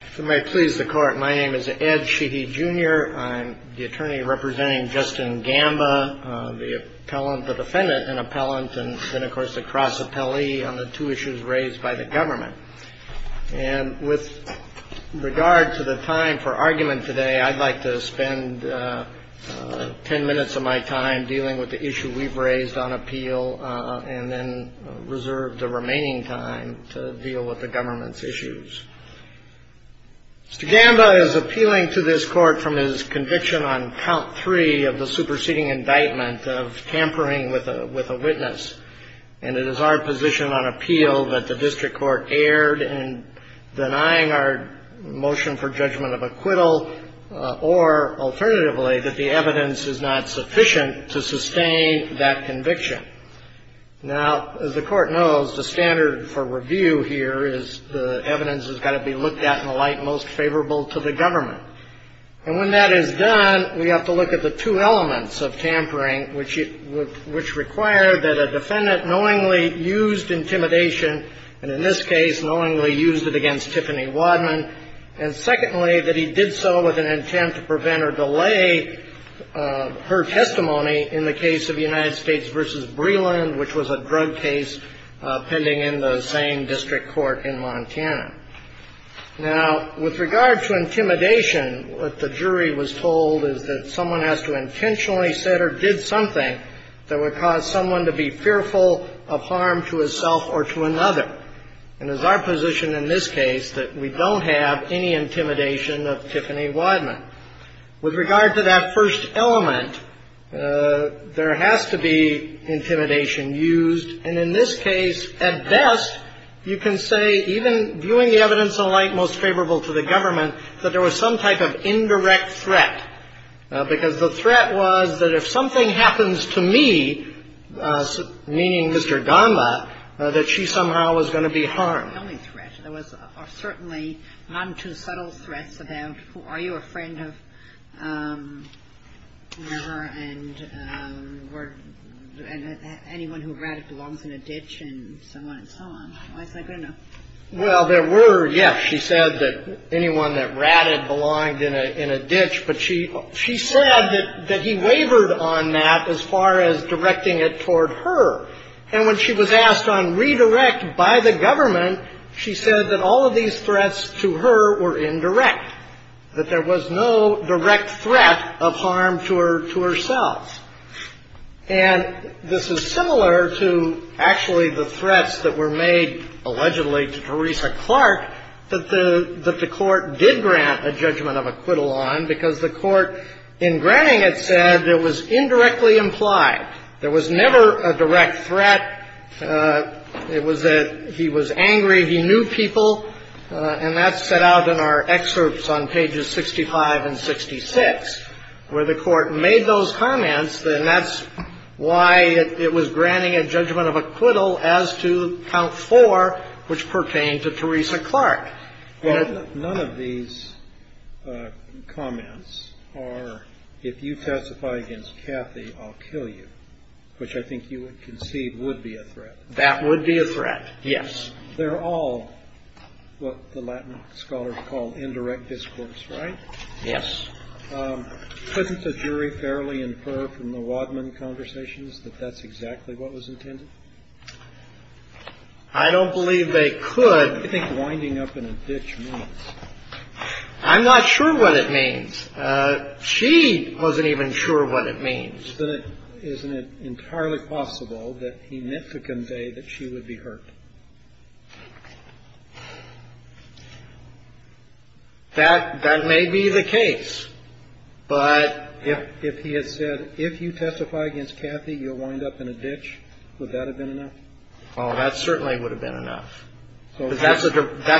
If it may please the court, my name is Ed Sheehy Jr. I'm the attorney representing Justin Gamba, the defendant and appellant, and then of course the cross-appellee on the two issues raised by the government. And with regard to the time for argument today, I'd like to spend ten minutes of my time dealing with the issue we've raised on appeal and then reserve the remaining time to deal with the government's issues. Mr. Gamba is appealing to this court from his conviction on count three of the superseding indictment of tampering with a witness. And it is our position on appeal that the district court erred in denying our motion for judgment of acquittal or, alternatively, that the evidence is not sufficient to sustain that conviction. Now, as the court knows, the standard for review here is the evidence has got to be looked at in a light most favorable to the government. And when that is done, we have to look at the two elements of tampering, which require that a defendant knowingly used intimidation, and in this case, knowingly used it against Tiffany Wadman, and secondly, that he did so with an intent to prevent or delay her testimony in the case of United States v. Breland, which was a drug case pending in the same district court in Montana. Now, with regard to intimidation, what the jury was told is that someone has to intentionally said or did something that would cause someone to be fearful of harm to himself or to another. And it's our position in this case that we don't have any intimidation of Tiffany Wadman. With regard to that first element, there has to be intimidation used. And in this case, at best, you can say, even viewing the evidence in light most favorable to the government, that there was some type of indirect threat, because the threat was that if something happens to me, meaning Mr. Gamba, that she somehow was going to be harmed. There was certainly not too subtle threats about, are you a friend of her and were anyone who ratted belongs in a ditch and so on and so on. Why is that good or no? Well, there were, yes, she said that anyone that ratted belonged in a ditch, but she said that he wavered on that as far as directing it toward her. And when she was asked on redirect by the government, she said that all of these threats to her were indirect, that there was no direct threat of harm to herself. And this is similar to actually the threats that were made allegedly to Teresa Clark that the Court did grant a judgment of acquittal on, because the Court, in granting it, said it was indirectly implied. There was never a direct threat. It was that he was angry, he knew people. And that's set out in our excerpts on pages 65 and 66, where the Court made those comments, and that's why it was granting a judgment of acquittal as to count four, which pertained to Teresa Clark. None of these comments are, if you testify against Kathy, I'll kill you, which I think you would conceive would be a threat. That would be a threat, yes. They're all what the Latin scholars call indirect discourse, right? Yes. Couldn't the jury fairly infer from the Wadman conversations that that's exactly what was intended? I don't believe they could. What do you think winding up in a ditch means? I'm not sure what it means. She wasn't even sure what it means. Isn't it entirely possible that he meant to convey that she would be hurt? That may be the case, but if he had said, if you testify against Kathy, you'll wind up in a ditch, would that have been enough? Oh, that certainly would have been enough. That's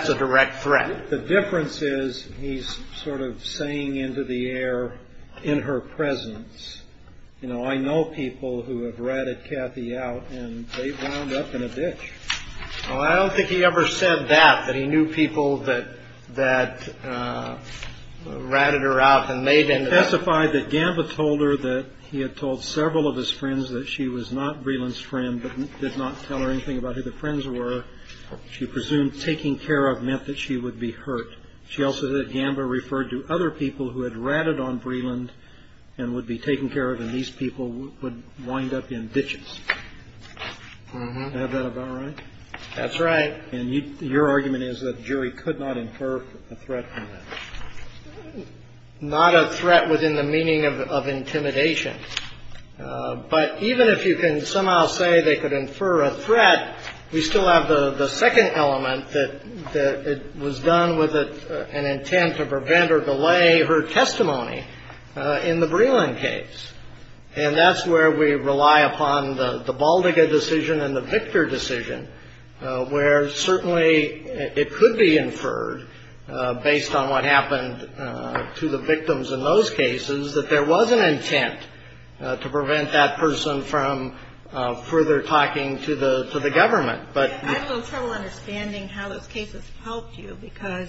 a direct threat. The difference is he's sort of saying into the air in her presence, you know, I know people who have ratted Kathy out and they've wound up in a ditch. I don't think he ever said that, that he knew people that ratted her out and made him testify. He testified that Gamba told her that he had told several of his friends that she was not Breland's friend, but did not tell her anything about who the friends were. She presumed taking care of meant that she would be hurt. She also said Gamba referred to other people who had ratted on Breland and would be taken care of, and these people would wind up in ditches. Is that about right? That's right. And your argument is that the jury could not infer a threat from that? Not a threat within the meaning of intimidation. But even if you can somehow say they could infer a threat, we still have the second element, that it was done with an intent to prevent or delay her testimony in the Breland case. And that's where we rely upon the Baldiga decision and the Victor decision, where certainly it could be inferred, based on what happened to the victims in those cases, that there was an intent to prevent that person from further talking to the government. I have a little trouble understanding how those cases helped you, because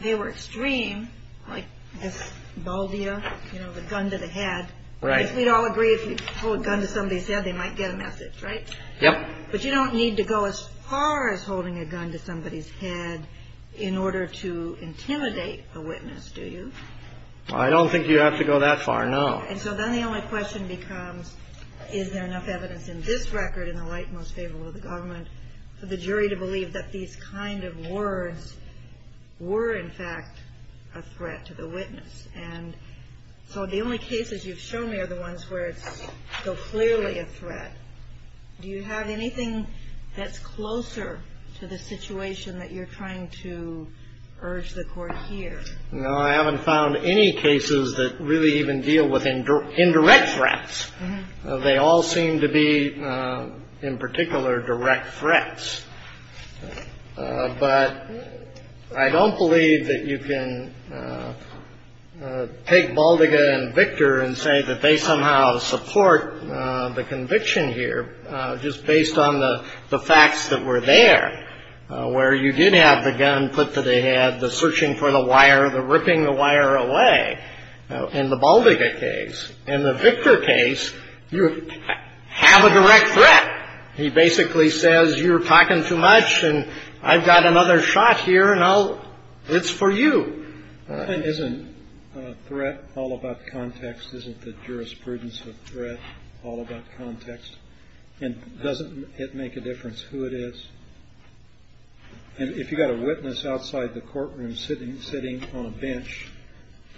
they were extreme, like this Baldiga, you know, the gun to the head. Right. We'd all agree if you hold a gun to somebody's head, they might get a message, right? Yep. But you don't need to go as far as holding a gun to somebody's head in order to intimidate a witness, do you? I don't think you have to go that far, no. And so then the only question becomes, is there enough evidence in this record in the light most favorable to the government for the jury to believe that these kind of words were, in fact, a threat to the witness? And so the only cases you've shown me are the ones where it's so clearly a threat. Do you have anything that's closer to the situation that you're trying to urge the court here? No, I haven't found any cases that really even deal with indirect threats. They all seem to be, in particular, direct threats. But I don't believe that you can take Baldiga and Victor and say that they somehow support the conviction here, just based on the facts that were there, where you did have the gun put to the head, the searching for the wire, the ripping the wire away in the Baldiga case. In the Victor case, you have a direct threat. He basically says, you're talking too much, and I've got another shot here, and it's for you. Isn't threat all about context? Isn't the jurisprudence of threat all about context? And doesn't it make a difference who it is? And if you've got a witness outside the courtroom sitting on a bench,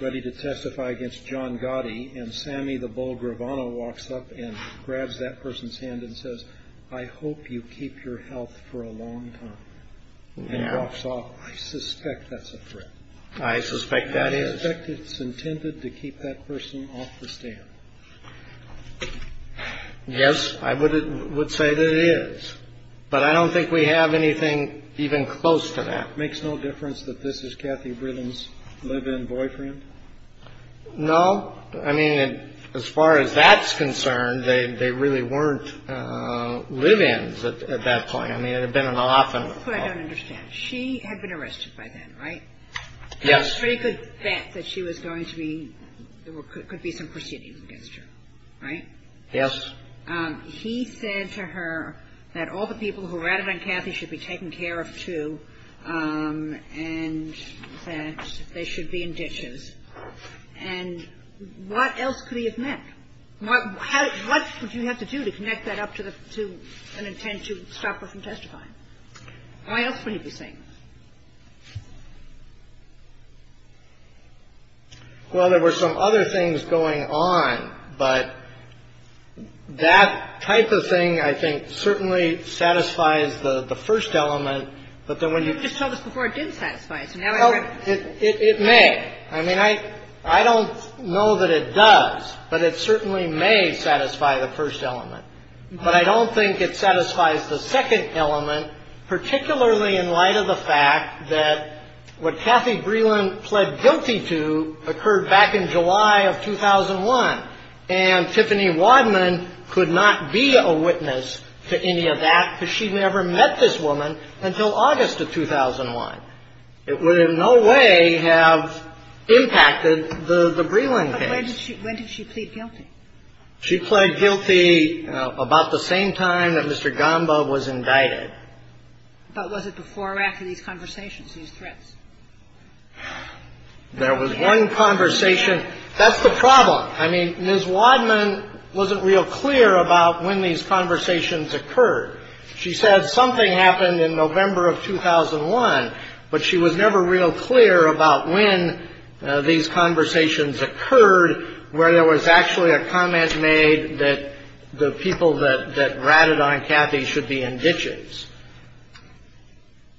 ready to testify against John Gotti, and Sammy the Bull Gravano walks up and grabs that person's hand and says, I hope you keep your health for a long time, and walks off, I suspect that's a threat. I suspect that is. I suspect it's intended to keep that person off the stand. Yes, I would say that it is. But I don't think we have anything even close to that. Makes no difference that this is Kathy Brillen's live-in boyfriend? No. I mean, as far as that's concerned, they really weren't live-ins at that point. I mean, it had been an often- That's what I don't understand. She had been arrested by then, right? Yes. So you could bet that she was going to be – there could be some proceedings against her, right? Yes. He said to her that all the people who ratted on Kathy should be taken care of, too, and that they should be in ditches. And what else could he have meant? What would you have to do to connect that up to an intent to stop her from testifying? Why else would he be saying this? Well, there were some other things going on, but that type of thing, I think, certainly satisfies the first element. But then when you – You just told us before it didn't satisfy it. It may. I mean, I don't know that it does, but it certainly may satisfy the first element. But I don't think it satisfies the second element, particularly in light of the fact that what Kathy Brillen fled guilty to occurred back in July of 2001, and Tiffany Wadman could not be a witness to any of that because she never met this woman until August of 2001. It would in no way have impacted the Brillen case. But when did she plead guilty? She pled guilty about the same time that Mr. Gamba was indicted. But was it before or after these conversations, these threats? There was one conversation. That's the problem. I mean, Ms. Wadman wasn't real clear about when these conversations occurred. She said something happened in November of 2001, but she was never real clear about when these conversations occurred, where there was actually a comment made that the people that ratted on Kathy should be in ditches.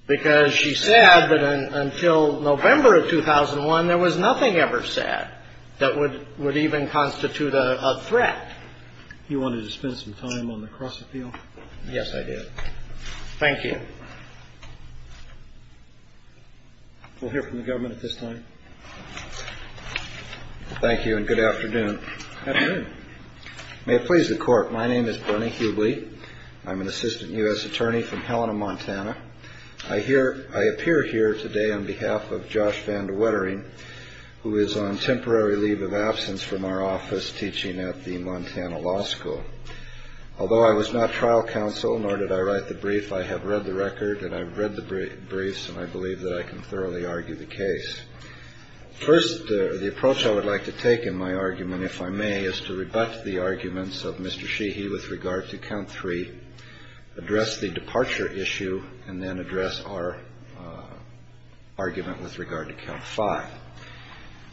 Because she said that until November of 2001, there was nothing ever said that would even constitute a threat. You wanted to spend some time on the cross-appeal? Yes, I did. Thank you. We'll hear from the government at this time. Thank you, and good afternoon. Good afternoon. May it please the Court. My name is Bernie Hughley. I'm an assistant U.S. attorney from Helena, Montana. I appear here today on behalf of Josh Van DeWettering, who is on temporary leave of absence from our office teaching at the Montana Law School. Although I was not trial counsel, nor did I write the brief, I have read the record, and I've read the briefs, and I believe that I can thoroughly argue the case. First, the approach I would like to take in my argument, if I may, is to rebut the arguments of Mr. Sheehy with regard to count three, address the departure issue, and then address our argument with regard to count five.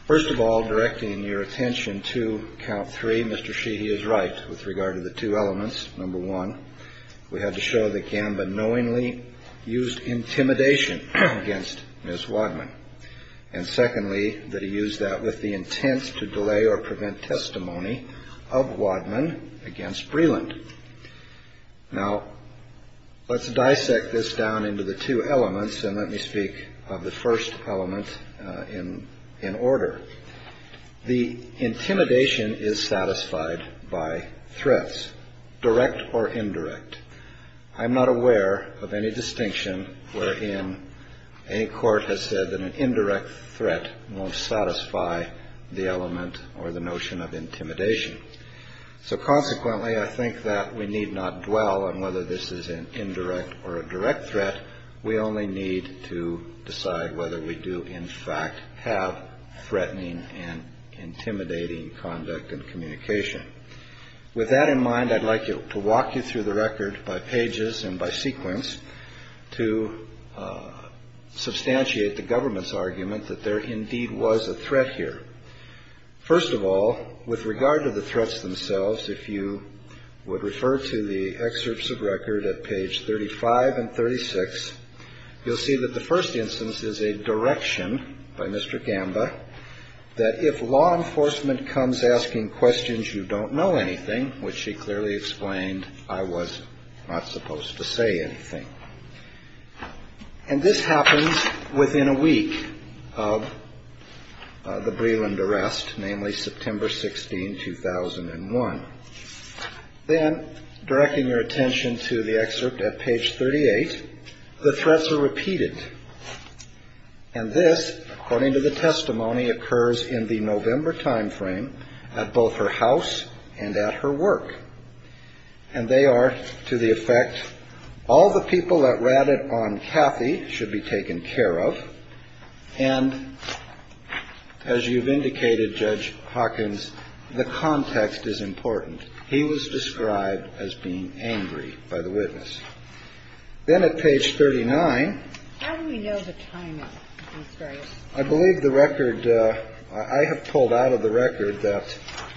First of all, directing your attention to count three, Mr. Sheehy is right with regard to the two elements. Number one, we have to show that Gamba knowingly used intimidation against Ms. Wadman, and secondly, that he used that with the intent to delay or prevent testimony of Wadman against Breland. Now, let's dissect this down into the two elements, and let me speak of the first element in order. The intimidation is satisfied by threats, direct or indirect. I'm not aware of any distinction wherein a court has said that an indirect threat won't satisfy the element or the notion of intimidation. So consequently, I think that we need not dwell on whether this is an indirect or a direct threat. We only need to decide whether we do, in fact, have threatening and intimidating conduct and communication. With that in mind, I'd like to walk you through the record by pages and by sequence to substantiate the government's argument that there indeed was a threat here. First of all, with regard to the threats themselves, if you would refer to the excerpts of record at page 35 and 36, you'll see that the first instance is a direction by Mr. Gamba that if law enforcement comes asking questions, you don't know anything, which she clearly explained, I was not supposed to say anything. And this happens within a week of the Breland arrest, namely September 16, 2001. Then, directing your attention to the excerpt at page 38, the threats are repeated. And this, according to the testimony, occurs in the November time frame at both her house and at her work. And they are to the effect, all the people that ratted on Kathy should be taken care of. And as you've indicated, Judge Hawkins, the context is important. He was described as being angry by the witness. Then at page 39. How do we know the timing of these threats? I believe the record I have pulled out of the record that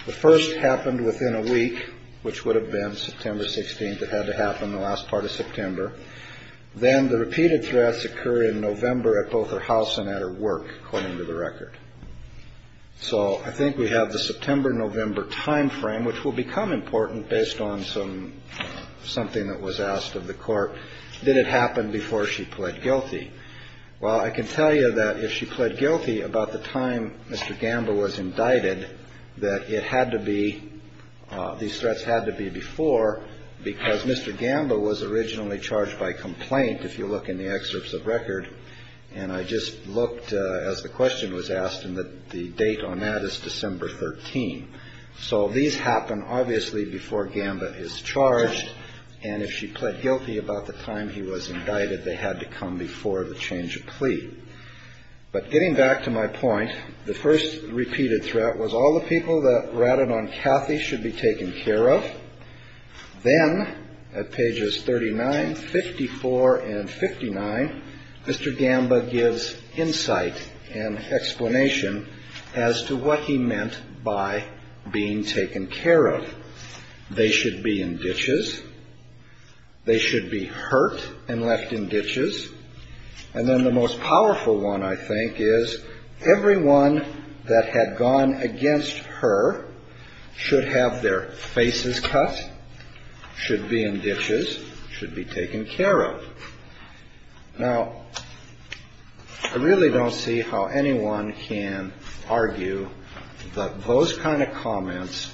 the first happened within a week, which would have been September 16th. It had to happen the last part of September. Then the repeated threats occur in November at both her house and at her work, according to the record. So I think we have the September, November time frame, which will become important based on some something that was asked of the court. Did it happen before she pled guilty? Well, I can tell you that if she pled guilty about the time Mr. Gamba was indicted, that it had to be, these threats had to be before, because Mr. Gamba was originally charged by complaint, if you look in the excerpts of record. And I just looked, as the question was asked, and the date on that is December 13. So these happen obviously before Gamba is charged. And if she pled guilty about the time he was indicted, they had to come before the change of plea. But getting back to my point, the first repeated threat was all the people that ratted on Kathy should be taken care of. Then at pages 39, 54, and 59, Mr. Gamba gives insight and explanation as to what he meant by being taken care of. They should be in ditches. They should be hurt and left in ditches. And then the most powerful one, I think, is everyone that had gone against her should have their faces cut, should be in ditches, should be taken care of. Now, I really don't see how anyone can argue that those kind of comments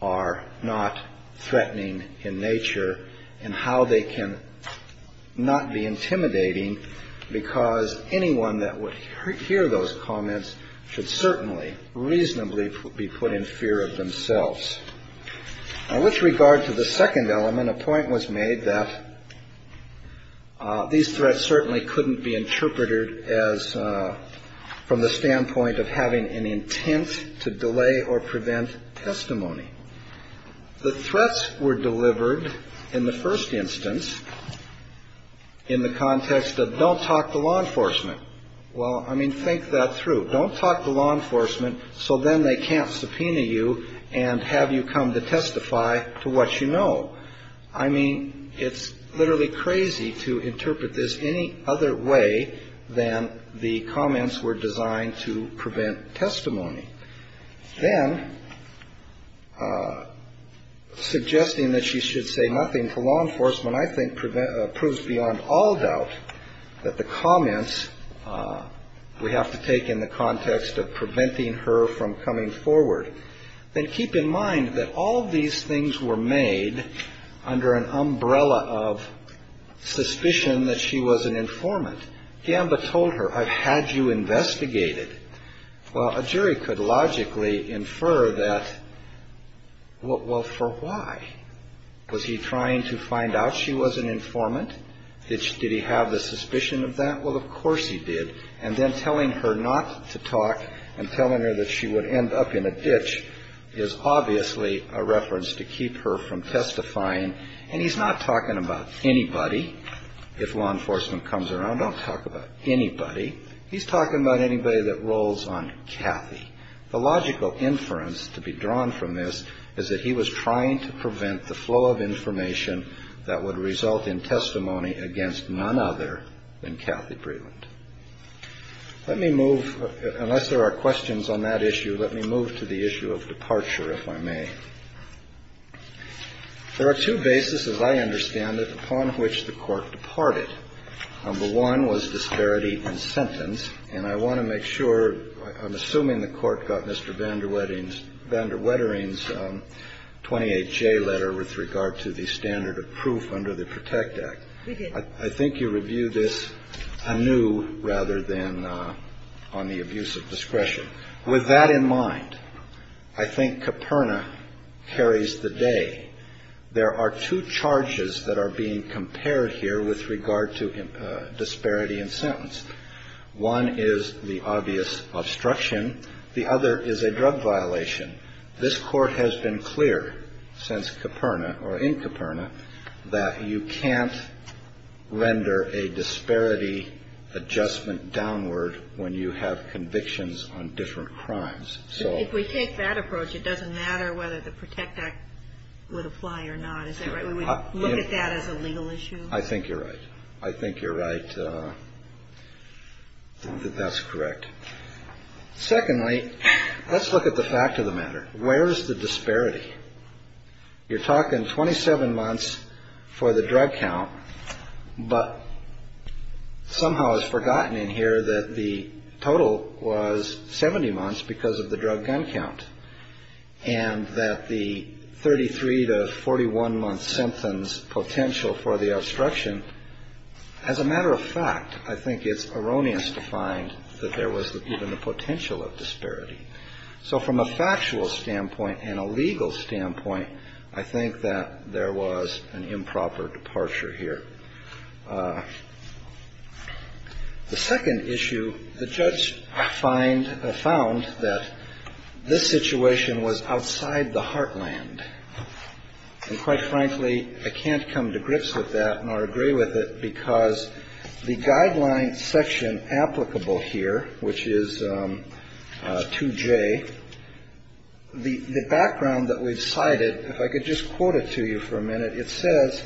are not threatening in nature and how they can not be intimidating, because anyone that would hear those comments should certainly reasonably be put in fear of themselves. Now, with regard to the second element, a point was made that these threats certainly couldn't be interpreted as from the standpoint of having an intent to delay or prevent testimony. The threats were delivered in the first instance in the context of don't talk to law enforcement. Well, I mean, think that through. Don't talk to law enforcement so then they can't subpoena you and have you come to testify to what you know. I mean, it's literally crazy to interpret this any other way than the comments were designed to prevent testimony. Then suggesting that she should say nothing to law enforcement, I think, proves beyond all doubt that the comments we have to take in the context of preventing her from coming forward. Then keep in mind that all of these things were made under an umbrella of suspicion that she was an informant. Gamba told her, I've had you investigated. Well, a jury could logically infer that, well, for why? Was he trying to find out she was an informant? Did he have the suspicion of that? Well, of course he did. And then telling her not to talk and telling her that she would end up in a ditch is obviously a reference to keep her from testifying. And he's not talking about anybody. If law enforcement comes around, don't talk about anybody. He's talking about anybody that rolls on Kathy. The logical inference to be drawn from this is that he was trying to prevent the flow of information that would result in testimony against none other than Kathy Breland. Let me move, unless there are questions on that issue, let me move to the issue of departure, if I may. There are two bases, as I understand it, upon which the court departed. Number one was disparity in sentence. And I want to make sure, I'm assuming the court got Mr. Vander Wettering's 28J letter with regard to the standard of proof under the PROTECT Act. I think you review this anew rather than on the abuse of discretion. With that in mind, I think Caperna carries the day. There are two charges that are being compared here with regard to disparity in sentence. One is the obvious obstruction. The other is a drug violation. This Court has been clear since Caperna or in Caperna that you can't render a disparity adjustment downward when you have convictions on different crimes. So if we take that approach, it doesn't matter whether the PROTECT Act would apply or not. Is that right? Would we look at that as a legal issue? I think you're right. I think you're right that that's correct. Secondly, let's look at the fact of the matter. Where is the disparity? You're talking 27 months for the drug count, but somehow it's forgotten in here that the total was 70 months because of the drug gun count. And that the 33 to 41-month sentence potential for the obstruction, as a matter of fact, I think it's erroneous to find that there was even the potential of disparity. So from a factual standpoint and a legal standpoint, I think that there was an improper departure here. The second issue, the judge found that this situation was outside the heartland. And quite frankly, I can't come to grips with that nor agree with it because the guideline section applicable here, which is 2J, the background that we've cited, if I could just quote it to you for a minute, it says,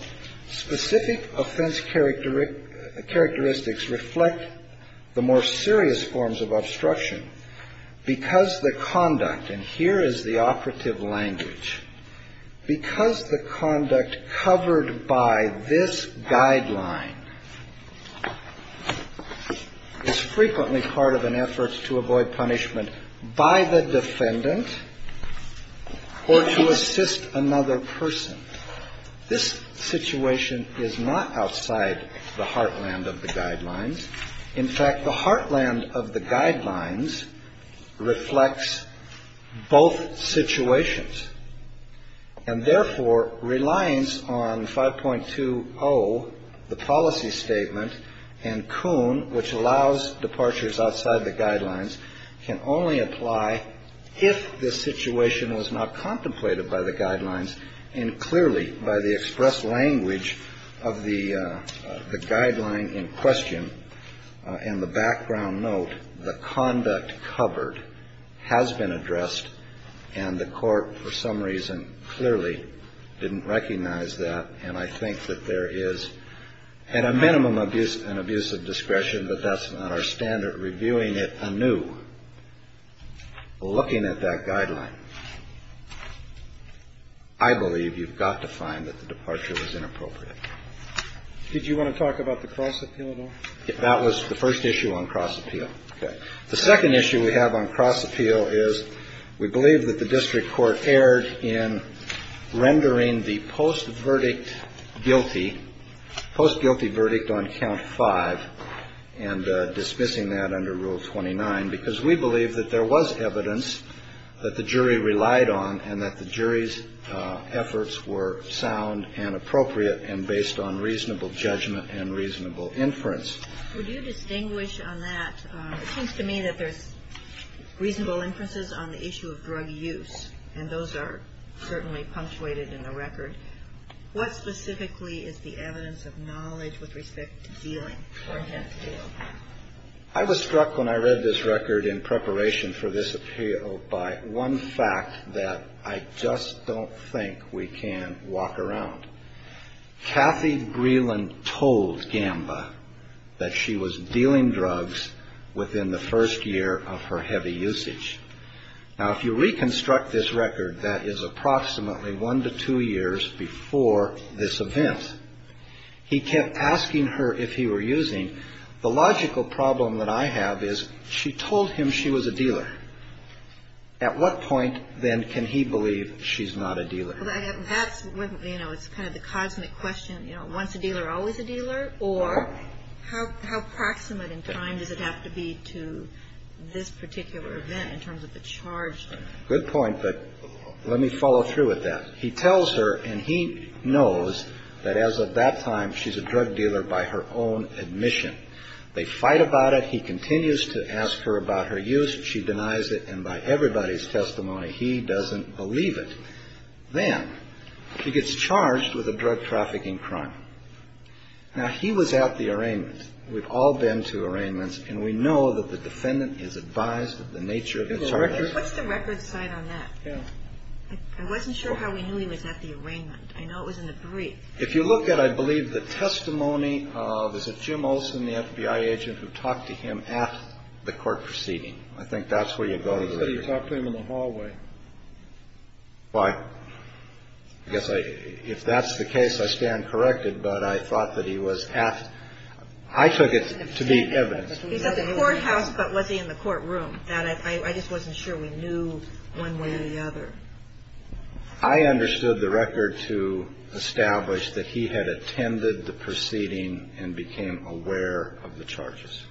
Specific offense characteristics reflect the more serious forms of obstruction because the conduct, and here is the operative language, because the conduct covered by this guideline is frequently part of an effort to avoid punishment by the defendant or to assist another person. This situation is not outside the heartland of the guidelines. In fact, the heartland of the guidelines reflects both situations. And therefore, reliance on 5.20, the policy statement, and Kuhn, which allows departures outside the guidelines, can only apply if the situation was not contemplated by the guidelines and clearly by the express language of the guideline in question. And the background note, the conduct covered has been addressed, and the court for some reason clearly didn't recognize that. And I think that there is, at a minimum, an abuse of discretion, but that's not our standard. Reviewing it anew, looking at that guideline, I believe you've got to find that the departure was inappropriate. Did you want to talk about the cross appeal at all? That was the first issue on cross appeal. Okay. The second issue we have on cross appeal is we believe that the district court erred in rendering the post-verdict guilty, post-guilty verdict on count five, and dismissing that under Rule 29, because we believe that there was evidence that the jury relied on and that the jury's efforts were sound and appropriate and based on reasonable judgment and reasonable inference. Would you distinguish on that? It seems to me that there's reasonable inferences on the issue of drug use, and those are certainly punctuated in the record. What specifically is the evidence of knowledge with respect to dealing or intent to deal? I was struck when I read this record in preparation for this appeal by one fact that I just don't think we can walk around. Kathy Breland told Gamba that she was dealing drugs within the first year of her heavy usage. Now, if you reconstruct this record, that is approximately one to two years before this event. He kept asking her if he were using. The logical problem that I have is she told him she was a dealer. At what point, then, can he believe she's not a dealer? That's, you know, it's kind of the cosmic question, you know, once a dealer, always a dealer? Or how proximate in time does it have to be to this particular event in terms of the charge? Good point, but let me follow through with that. He tells her, and he knows that as of that time, she's a drug dealer by her own admission. They fight about it. He continues to ask her about her use. She denies it, and by everybody's testimony, he doesn't believe it. Then he gets charged with a drug trafficking crime. Now, he was at the arraignment. We've all been to arraignments, and we know that the defendant is advised of the nature of his charges. What's the record side on that? I wasn't sure how we knew he was at the arraignment. I know it was in the brief. If you look at, I believe, the testimony of, is it Jim Olson, the FBI agent, who talked to him at the court proceeding? I think that's where you go to. I thought that he talked to him in the hallway. Well, I guess if that's the case, I stand corrected, but I thought that he was at the court. I took it to be evidence. He was at the courthouse, but was he in the courtroom? I just wasn't sure we knew one way or the other. I understood the record to establish that he had attended the proceeding and became aware of the charges.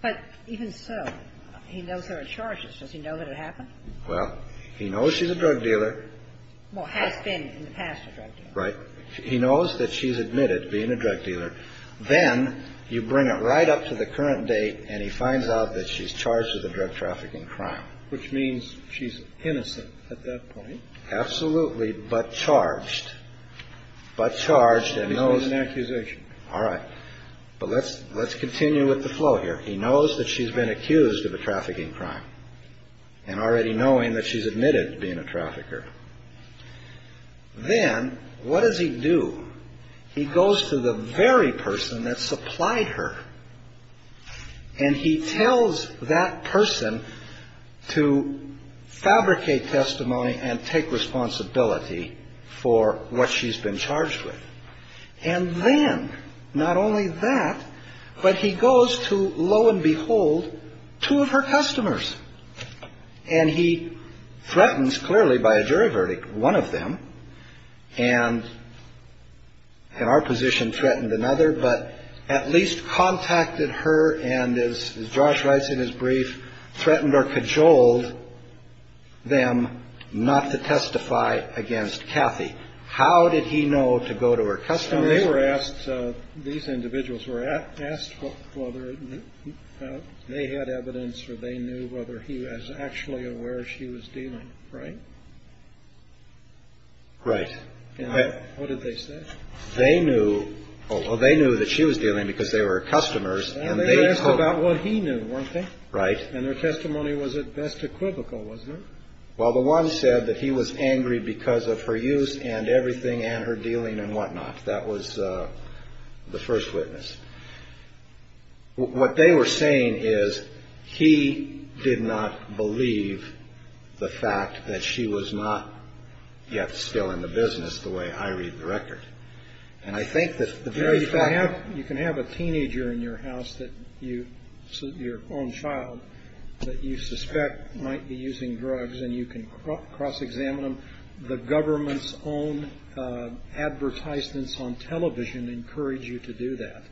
But even so, he knows there are charges. Does he know that it happened? Well, he knows she's a drug dealer. Well, has been in the past a drug dealer. Right. He knows that she's admitted being a drug dealer. Then you bring it right up to the current date, and he finds out that she's charged with a drug trafficking crime. Which means she's innocent at that point. Absolutely. But charged. But charged and knows. And he made an accusation. All right. But let's continue with the flow here. He knows that she's been accused of a trafficking crime. And already knowing that she's admitted being a trafficker. Then, what does he do? He goes to the very person that supplied her. And he tells that person to fabricate testimony and take responsibility for what she's been charged with. And then, not only that, but he goes to, lo and behold, two of her customers. And he threatens, clearly by a jury verdict, one of them. And our position threatened another, but at least contacted her and, as Josh writes in his brief, threatened or cajoled them not to testify against Kathy. How did he know to go to her customers? These individuals were asked whether they had evidence or they knew whether he was actually aware she was dealing. Right? Right. What did they say? They knew that she was dealing because they were her customers. And they asked about what he knew, weren't they? Right. And their testimony was at best equivocal, wasn't it? Well, the one said that he was angry because of her use and everything and her dealing and whatnot. That was the first witness. What they were saying is he did not believe the fact that she was not yet still in the business the way I read the record. You can have a teenager in your house, your own child, that you suspect might be using drugs and you can cross-examine them. The government's own advertisements on television encourage you to do that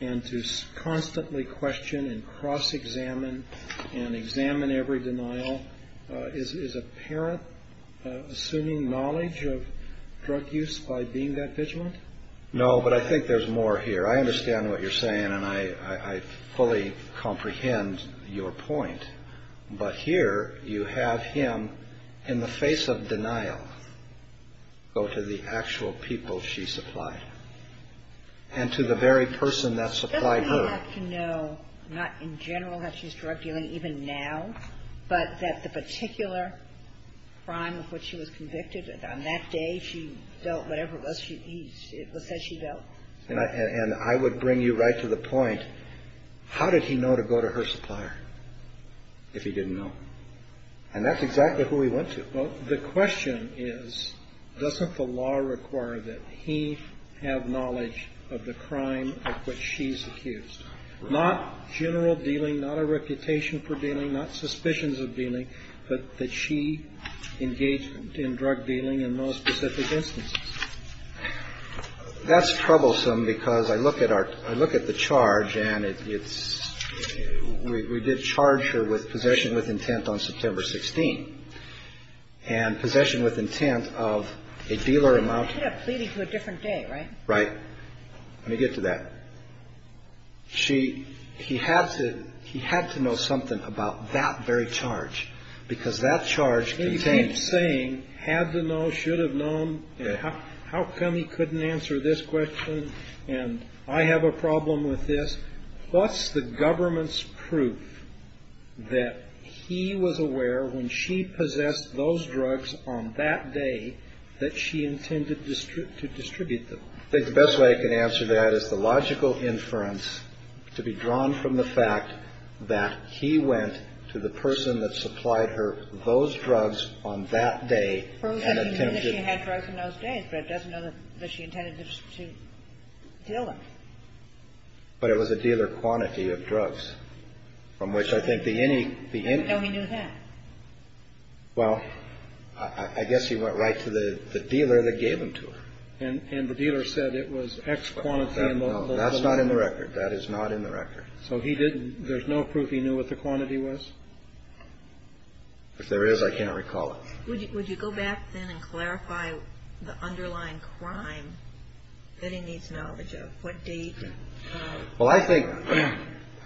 and to constantly question and cross-examine and examine every denial. Is a parent assuming knowledge of drug use by being that vigilant? No, but I think there's more here. I understand what you're saying and I fully comprehend your point. But here you have him in the face of denial go to the actual people she supplied and to the very person that supplied her. I would like to know not in general that she's drug dealing even now, but that the particular crime of which she was convicted on that day she dealt whatever it was that she dealt. And I would bring you right to the point. How did he know to go to her supplier if he didn't know? And that's exactly who he went to. The question is, doesn't the law require that he have knowledge of the crime of which she's accused? Not general dealing, not a reputation for dealing, not suspicions of dealing, but that she engaged in drug dealing in most specific instances. That's troublesome because I look at our I look at the charge and it's we did charge her with possession with intent on September 16th. And possession with intent of a dealer amount to a different day. Right. Right. Let me get to that. She he had to he had to know something about that very charge because that charge contained saying had to know, should have known. How come he couldn't answer this question? And I have a problem with this. What's the government's proof that he was aware when she possessed those drugs on that day that she intended to distribute them? I think the best way I can answer that is the logical inference to be drawn from the fact that he went to the person that supplied her those drugs on that day. He knew that she had drugs on those days, but it doesn't know that she intended to deal them. But it was a dealer quantity of drugs from which I think the any the any. How did he know that? Well, I guess he went right to the dealer that gave them to her. And the dealer said it was X quantity. That's not in the record. That is not in the record. So he didn't there's no proof he knew what the quantity was? If there is, I can't recall it. Would you go back then and clarify the underlying crime that he needs knowledge of? What date? Well, I think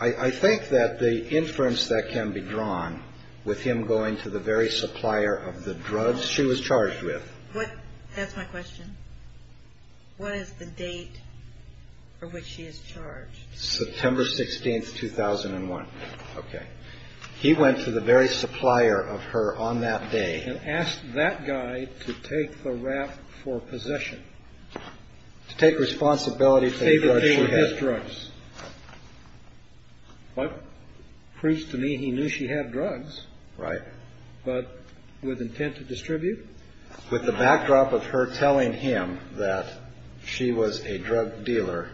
I think that the inference that can be drawn with him going to the very supplier of the drugs she was charged with. That's my question. What is the date for which she is charged? September 16th, 2001. Okay. He went to the very supplier of her on that day. And asked that guy to take the rap for possession. To take responsibility for the drugs she had. To pay for his drugs. What proves to me he knew she had drugs. Right. But with intent to distribute? With the backdrop of her telling him that she was a drug dealer.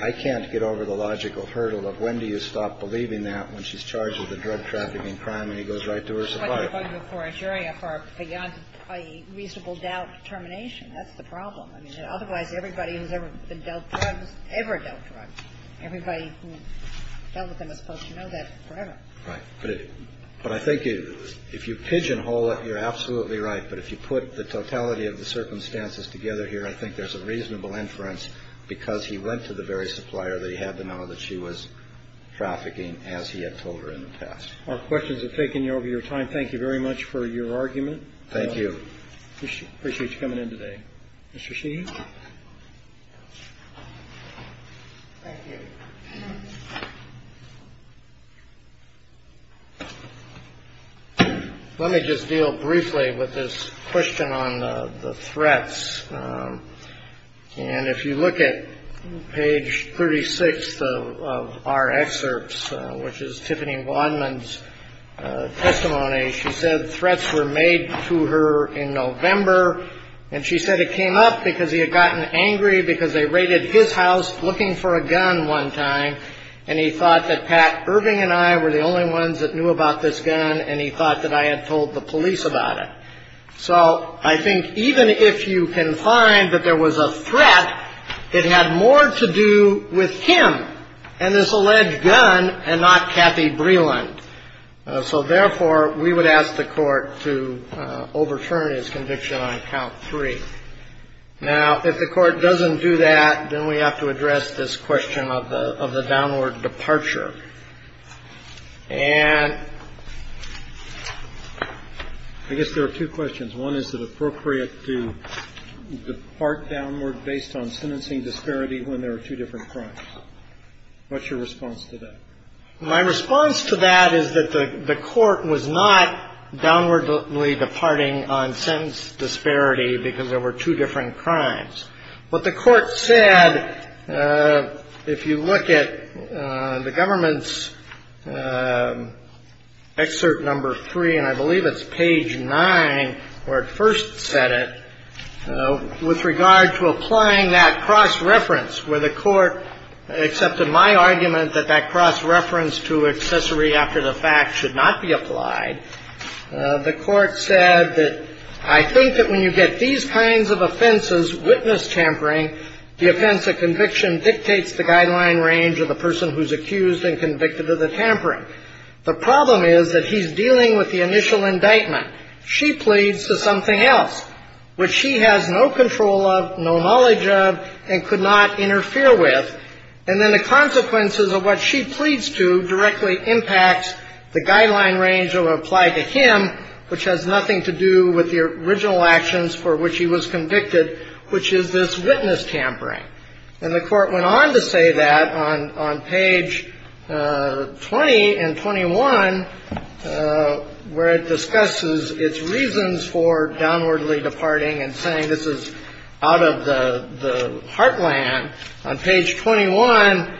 I can't get over the logical hurdle of when do you stop believing that when she's charged with a drug trafficking crime and he goes right to her supplier. For a jury for beyond a reasonable doubt termination. That's the problem. I mean, otherwise everybody who's ever been dealt drugs ever dealt drugs. Everybody who dealt with them is supposed to know that forever. Right. But I think if you pigeonhole it, you're absolutely right. But if you put the totality of the circumstances together here, I think there's a reasonable inference because he went to the very supplier that he had to know that she was trafficking as he had told her in the past. Our questions have taken you over your time. Thank you very much for your argument. Thank you. Appreciate you coming in today. Mr. Sheehy. Thank you. Thank you. Let me just deal briefly with this question on the threats. And if you look at page 36 of our excerpts, which is Tiffany Vondman's testimony, she said threats were made to her in November. And she said it came up because he had gotten angry because they raided his house looking for a gun one time. And he thought that Pat Irving and I were the only ones that knew about this gun. And he thought that I had told the police about it. So I think even if you can find that there was a threat, it had more to do with him and this alleged gun and not Kathy Breland. So therefore, we would ask the court to overturn his conviction on count three. Now, if the court doesn't do that, then we have to address this question of the downward departure. And I guess there are two questions. One is, is it appropriate to depart downward based on sentencing disparity when there are two different crimes? What's your response to that? My response to that is that the court was not downwardly departing on sentence disparity because there were two different crimes. What the court said, if you look at the government's excerpt number three, and I believe it's page nine where it first said it, with regard to applying that cross-reference where the court accepted my argument that that cross-reference to accessory after the fact should not be applied, the court said that I think that when you get these kinds of offenses, witness tampering, the offense of conviction dictates the guideline range of the person who's accused and convicted of the tampering. The problem is that he's dealing with the initial indictment. She pleads to something else, which she has no control of, no knowledge of, and could not interfere with. And then the consequences of what she pleads to directly impact the guideline range of apply to him, which has nothing to do with the original actions for which he was convicted, which is this witness tampering. And the court went on to say that on page 20 and 21 where it discusses its reasons for downwardly departing and saying this is out of the heartland. On page 21,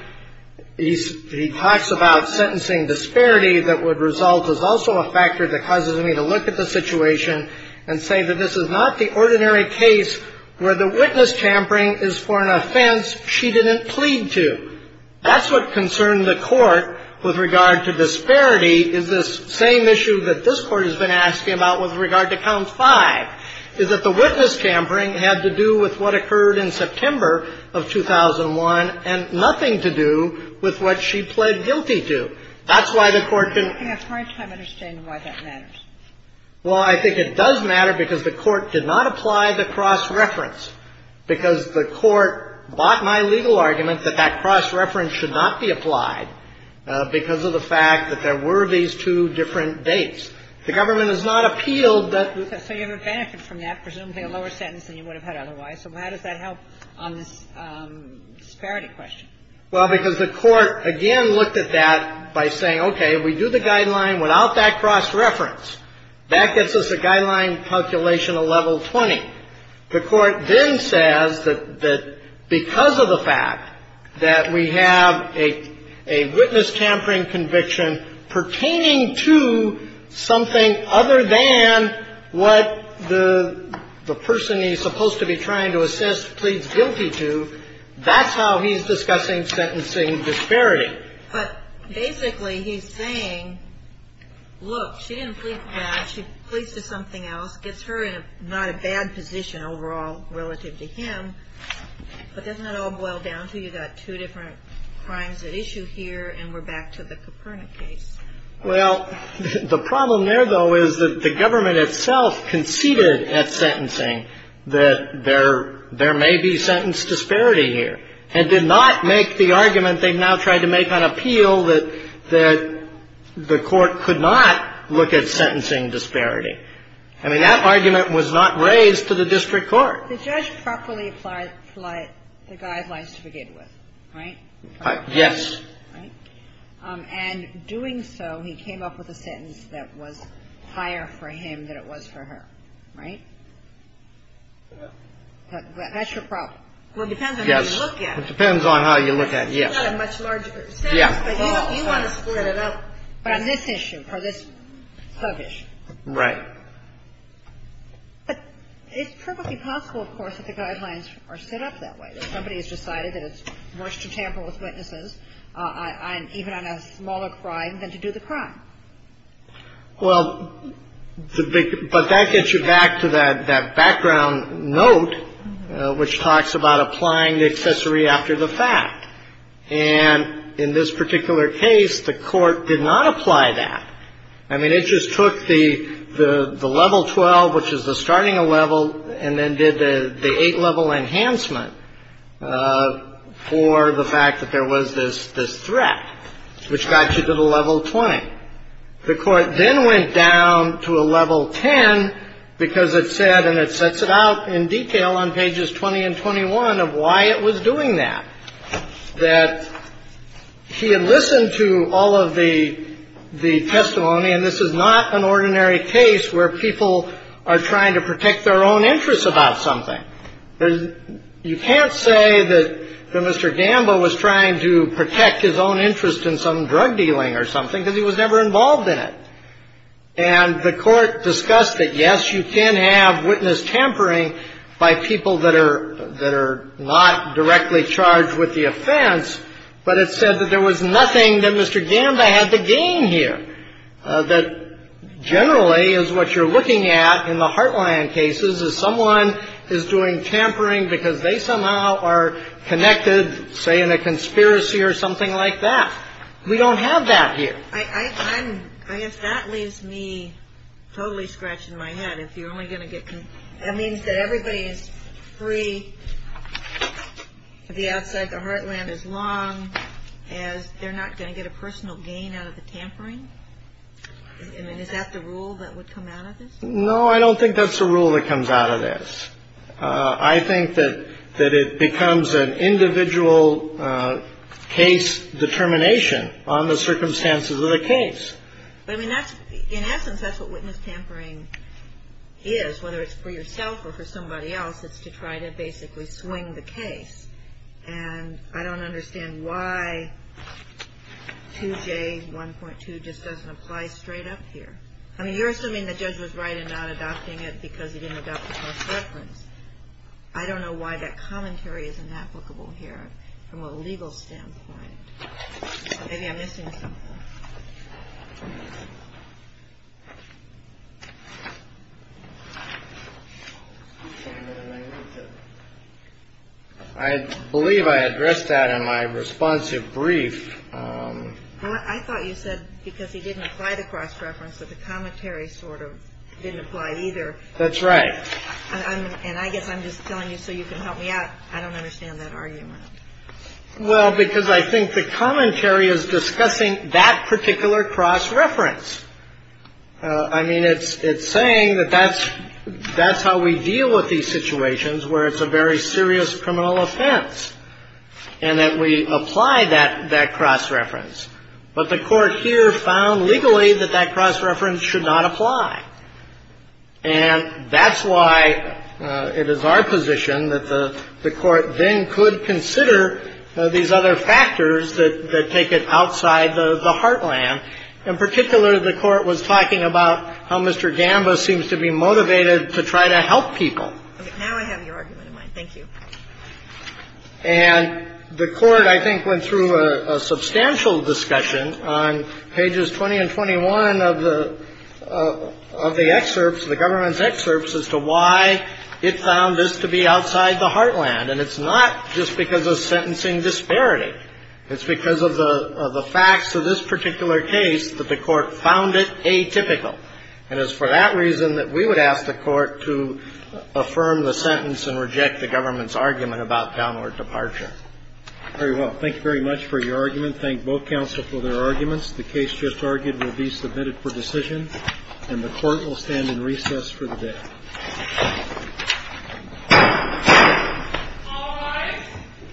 he talks about sentencing disparity that would result as also a factor that causes me to look at the situation and say that this is not the ordinary case where the witness tampering is for an offense she didn't plead to. That's what concerned the Court with regard to disparity is this same issue that this Court has been asking about with regard to Count 5, is that the witness tampering had to do with what occurred in September of 2001 and nothing to do with what she pled guilty to. That's why the Court didn't do it. Well, I think it does matter because the Court did not apply the cross-reference, because the Court bought my legal argument that that cross-reference should not be applied because of the fact that there were these two different dates. The government has not appealed that. So you have a benefit from that, presumably a lower sentence than you would have had otherwise. So how does that help on this disparity question? Well, because the Court, again, looked at that by saying, okay, we do the guideline without that cross-reference. That gets us a guideline calculation of level 20. The Court then says that because of the fact that we have a witness tampering conviction pertaining to something other than what the person he's supposed to be trying to assess pleads guilty to, that's how he's discussing sentencing disparity. But basically he's saying, look, she didn't plead for that. She pleads to something else. Gets her in not a bad position overall relative to him. But doesn't that all boil down to you've got two different crimes at issue here and we're back to the Coperna case? Well, the problem there, though, is that the government itself conceded at sentencing that there may be sentence disparity here and did not make the argument they've now tried to make on appeal that the Court could not look at sentencing disparity. I mean, that argument was not raised to the district court. The judge properly applied the guidelines to begin with, right? Yes. And doing so, he came up with a sentence that was higher for him than it was for her, right? That's your problem. Well, it depends on how you look at it. It depends on how you look at it, yes. It's not a much larger sentence, but you want to split it up. But on this issue, for this sub-issue. Right. But it's perfectly possible, of course, that the guidelines are set up that way. Somebody has decided that it's worse to tamper with witnesses, even on a smaller crime, than to do the crime. Well, but that gets you back to that background note, which talks about applying the accessory after the fact. And in this particular case, the Court did not apply that. I mean, it just took the level 12, which is the starting level, and then did the 8-level enhancement for the fact that there was this threat, which got you to the level 20. The Court then went down to a level 10 because it said, and it sets it out in detail on pages 20 and 21 of why it was doing that, that he had listened to all of the testimony. And this is not an ordinary case where people are trying to protect their own interests about something. You can't say that Mr. Gambo was trying to protect his own interest in some drug dealing or something because he was never involved in it. And the Court discussed that, yes, you can have witness tampering by people that are not directly charged with the offense, but it said that there was nothing that Mr. Gambo had to gain here. That generally is what you're looking at in the Heartland cases, is someone is doing tampering because they somehow are connected, say, in a conspiracy or something like that. We don't have that here. I guess that leaves me totally scratched in my head. If you're only going to get – that means that everybody is free to be outside the Heartland as long as they're not going to get a personal gain out of the tampering? I mean, is that the rule that would come out of this? No, I don't think that's the rule that comes out of this. I think that it becomes an individual case determination on the circumstances of the case. But, I mean, that's – in essence, that's what witness tampering is, whether it's for yourself or for somebody else. It's to try to basically swing the case. And I don't understand why 2J1.2 just doesn't apply straight up here. I mean, you're assuming the judge was right in not adopting it because he didn't adopt the cross-reference. I don't know why that commentary is inapplicable here from a legal standpoint. Maybe I'm missing something. I believe I addressed that in my responsive brief. I thought you said because he didn't apply the cross-reference that the commentary sort of didn't apply either. That's right. And I guess I'm just telling you so you can help me out. I don't understand that argument. Well, because I think the commentary is discussing that particular cross-reference. I mean, it's saying that that's how we deal with these situations where it's a very serious criminal offense, and that we apply that cross-reference. But the Court here found legally that that cross-reference should not apply. And that's why it is our position that the Court then could consider these other factors that take it outside the heartland. In particular, the Court was talking about how Mr. Gamba seems to be motivated to try to help people. Now I have your argument in mind. Thank you. And the Court, I think, went through a substantial discussion on pages 20 and 21 of the excerpts, the government's excerpts, as to why it found this to be outside the heartland. And it's not just because of sentencing disparity. It's because of the facts of this particular case that the Court found it atypical. And it's for that reason that we would ask the Court to affirm the sentence and reject the government's argument about downward departure. Very well. Thank you very much for your argument. Thank both counsel for their arguments. The case just argued will be submitted for decision, and the Court will stand in recess for the day. All rise.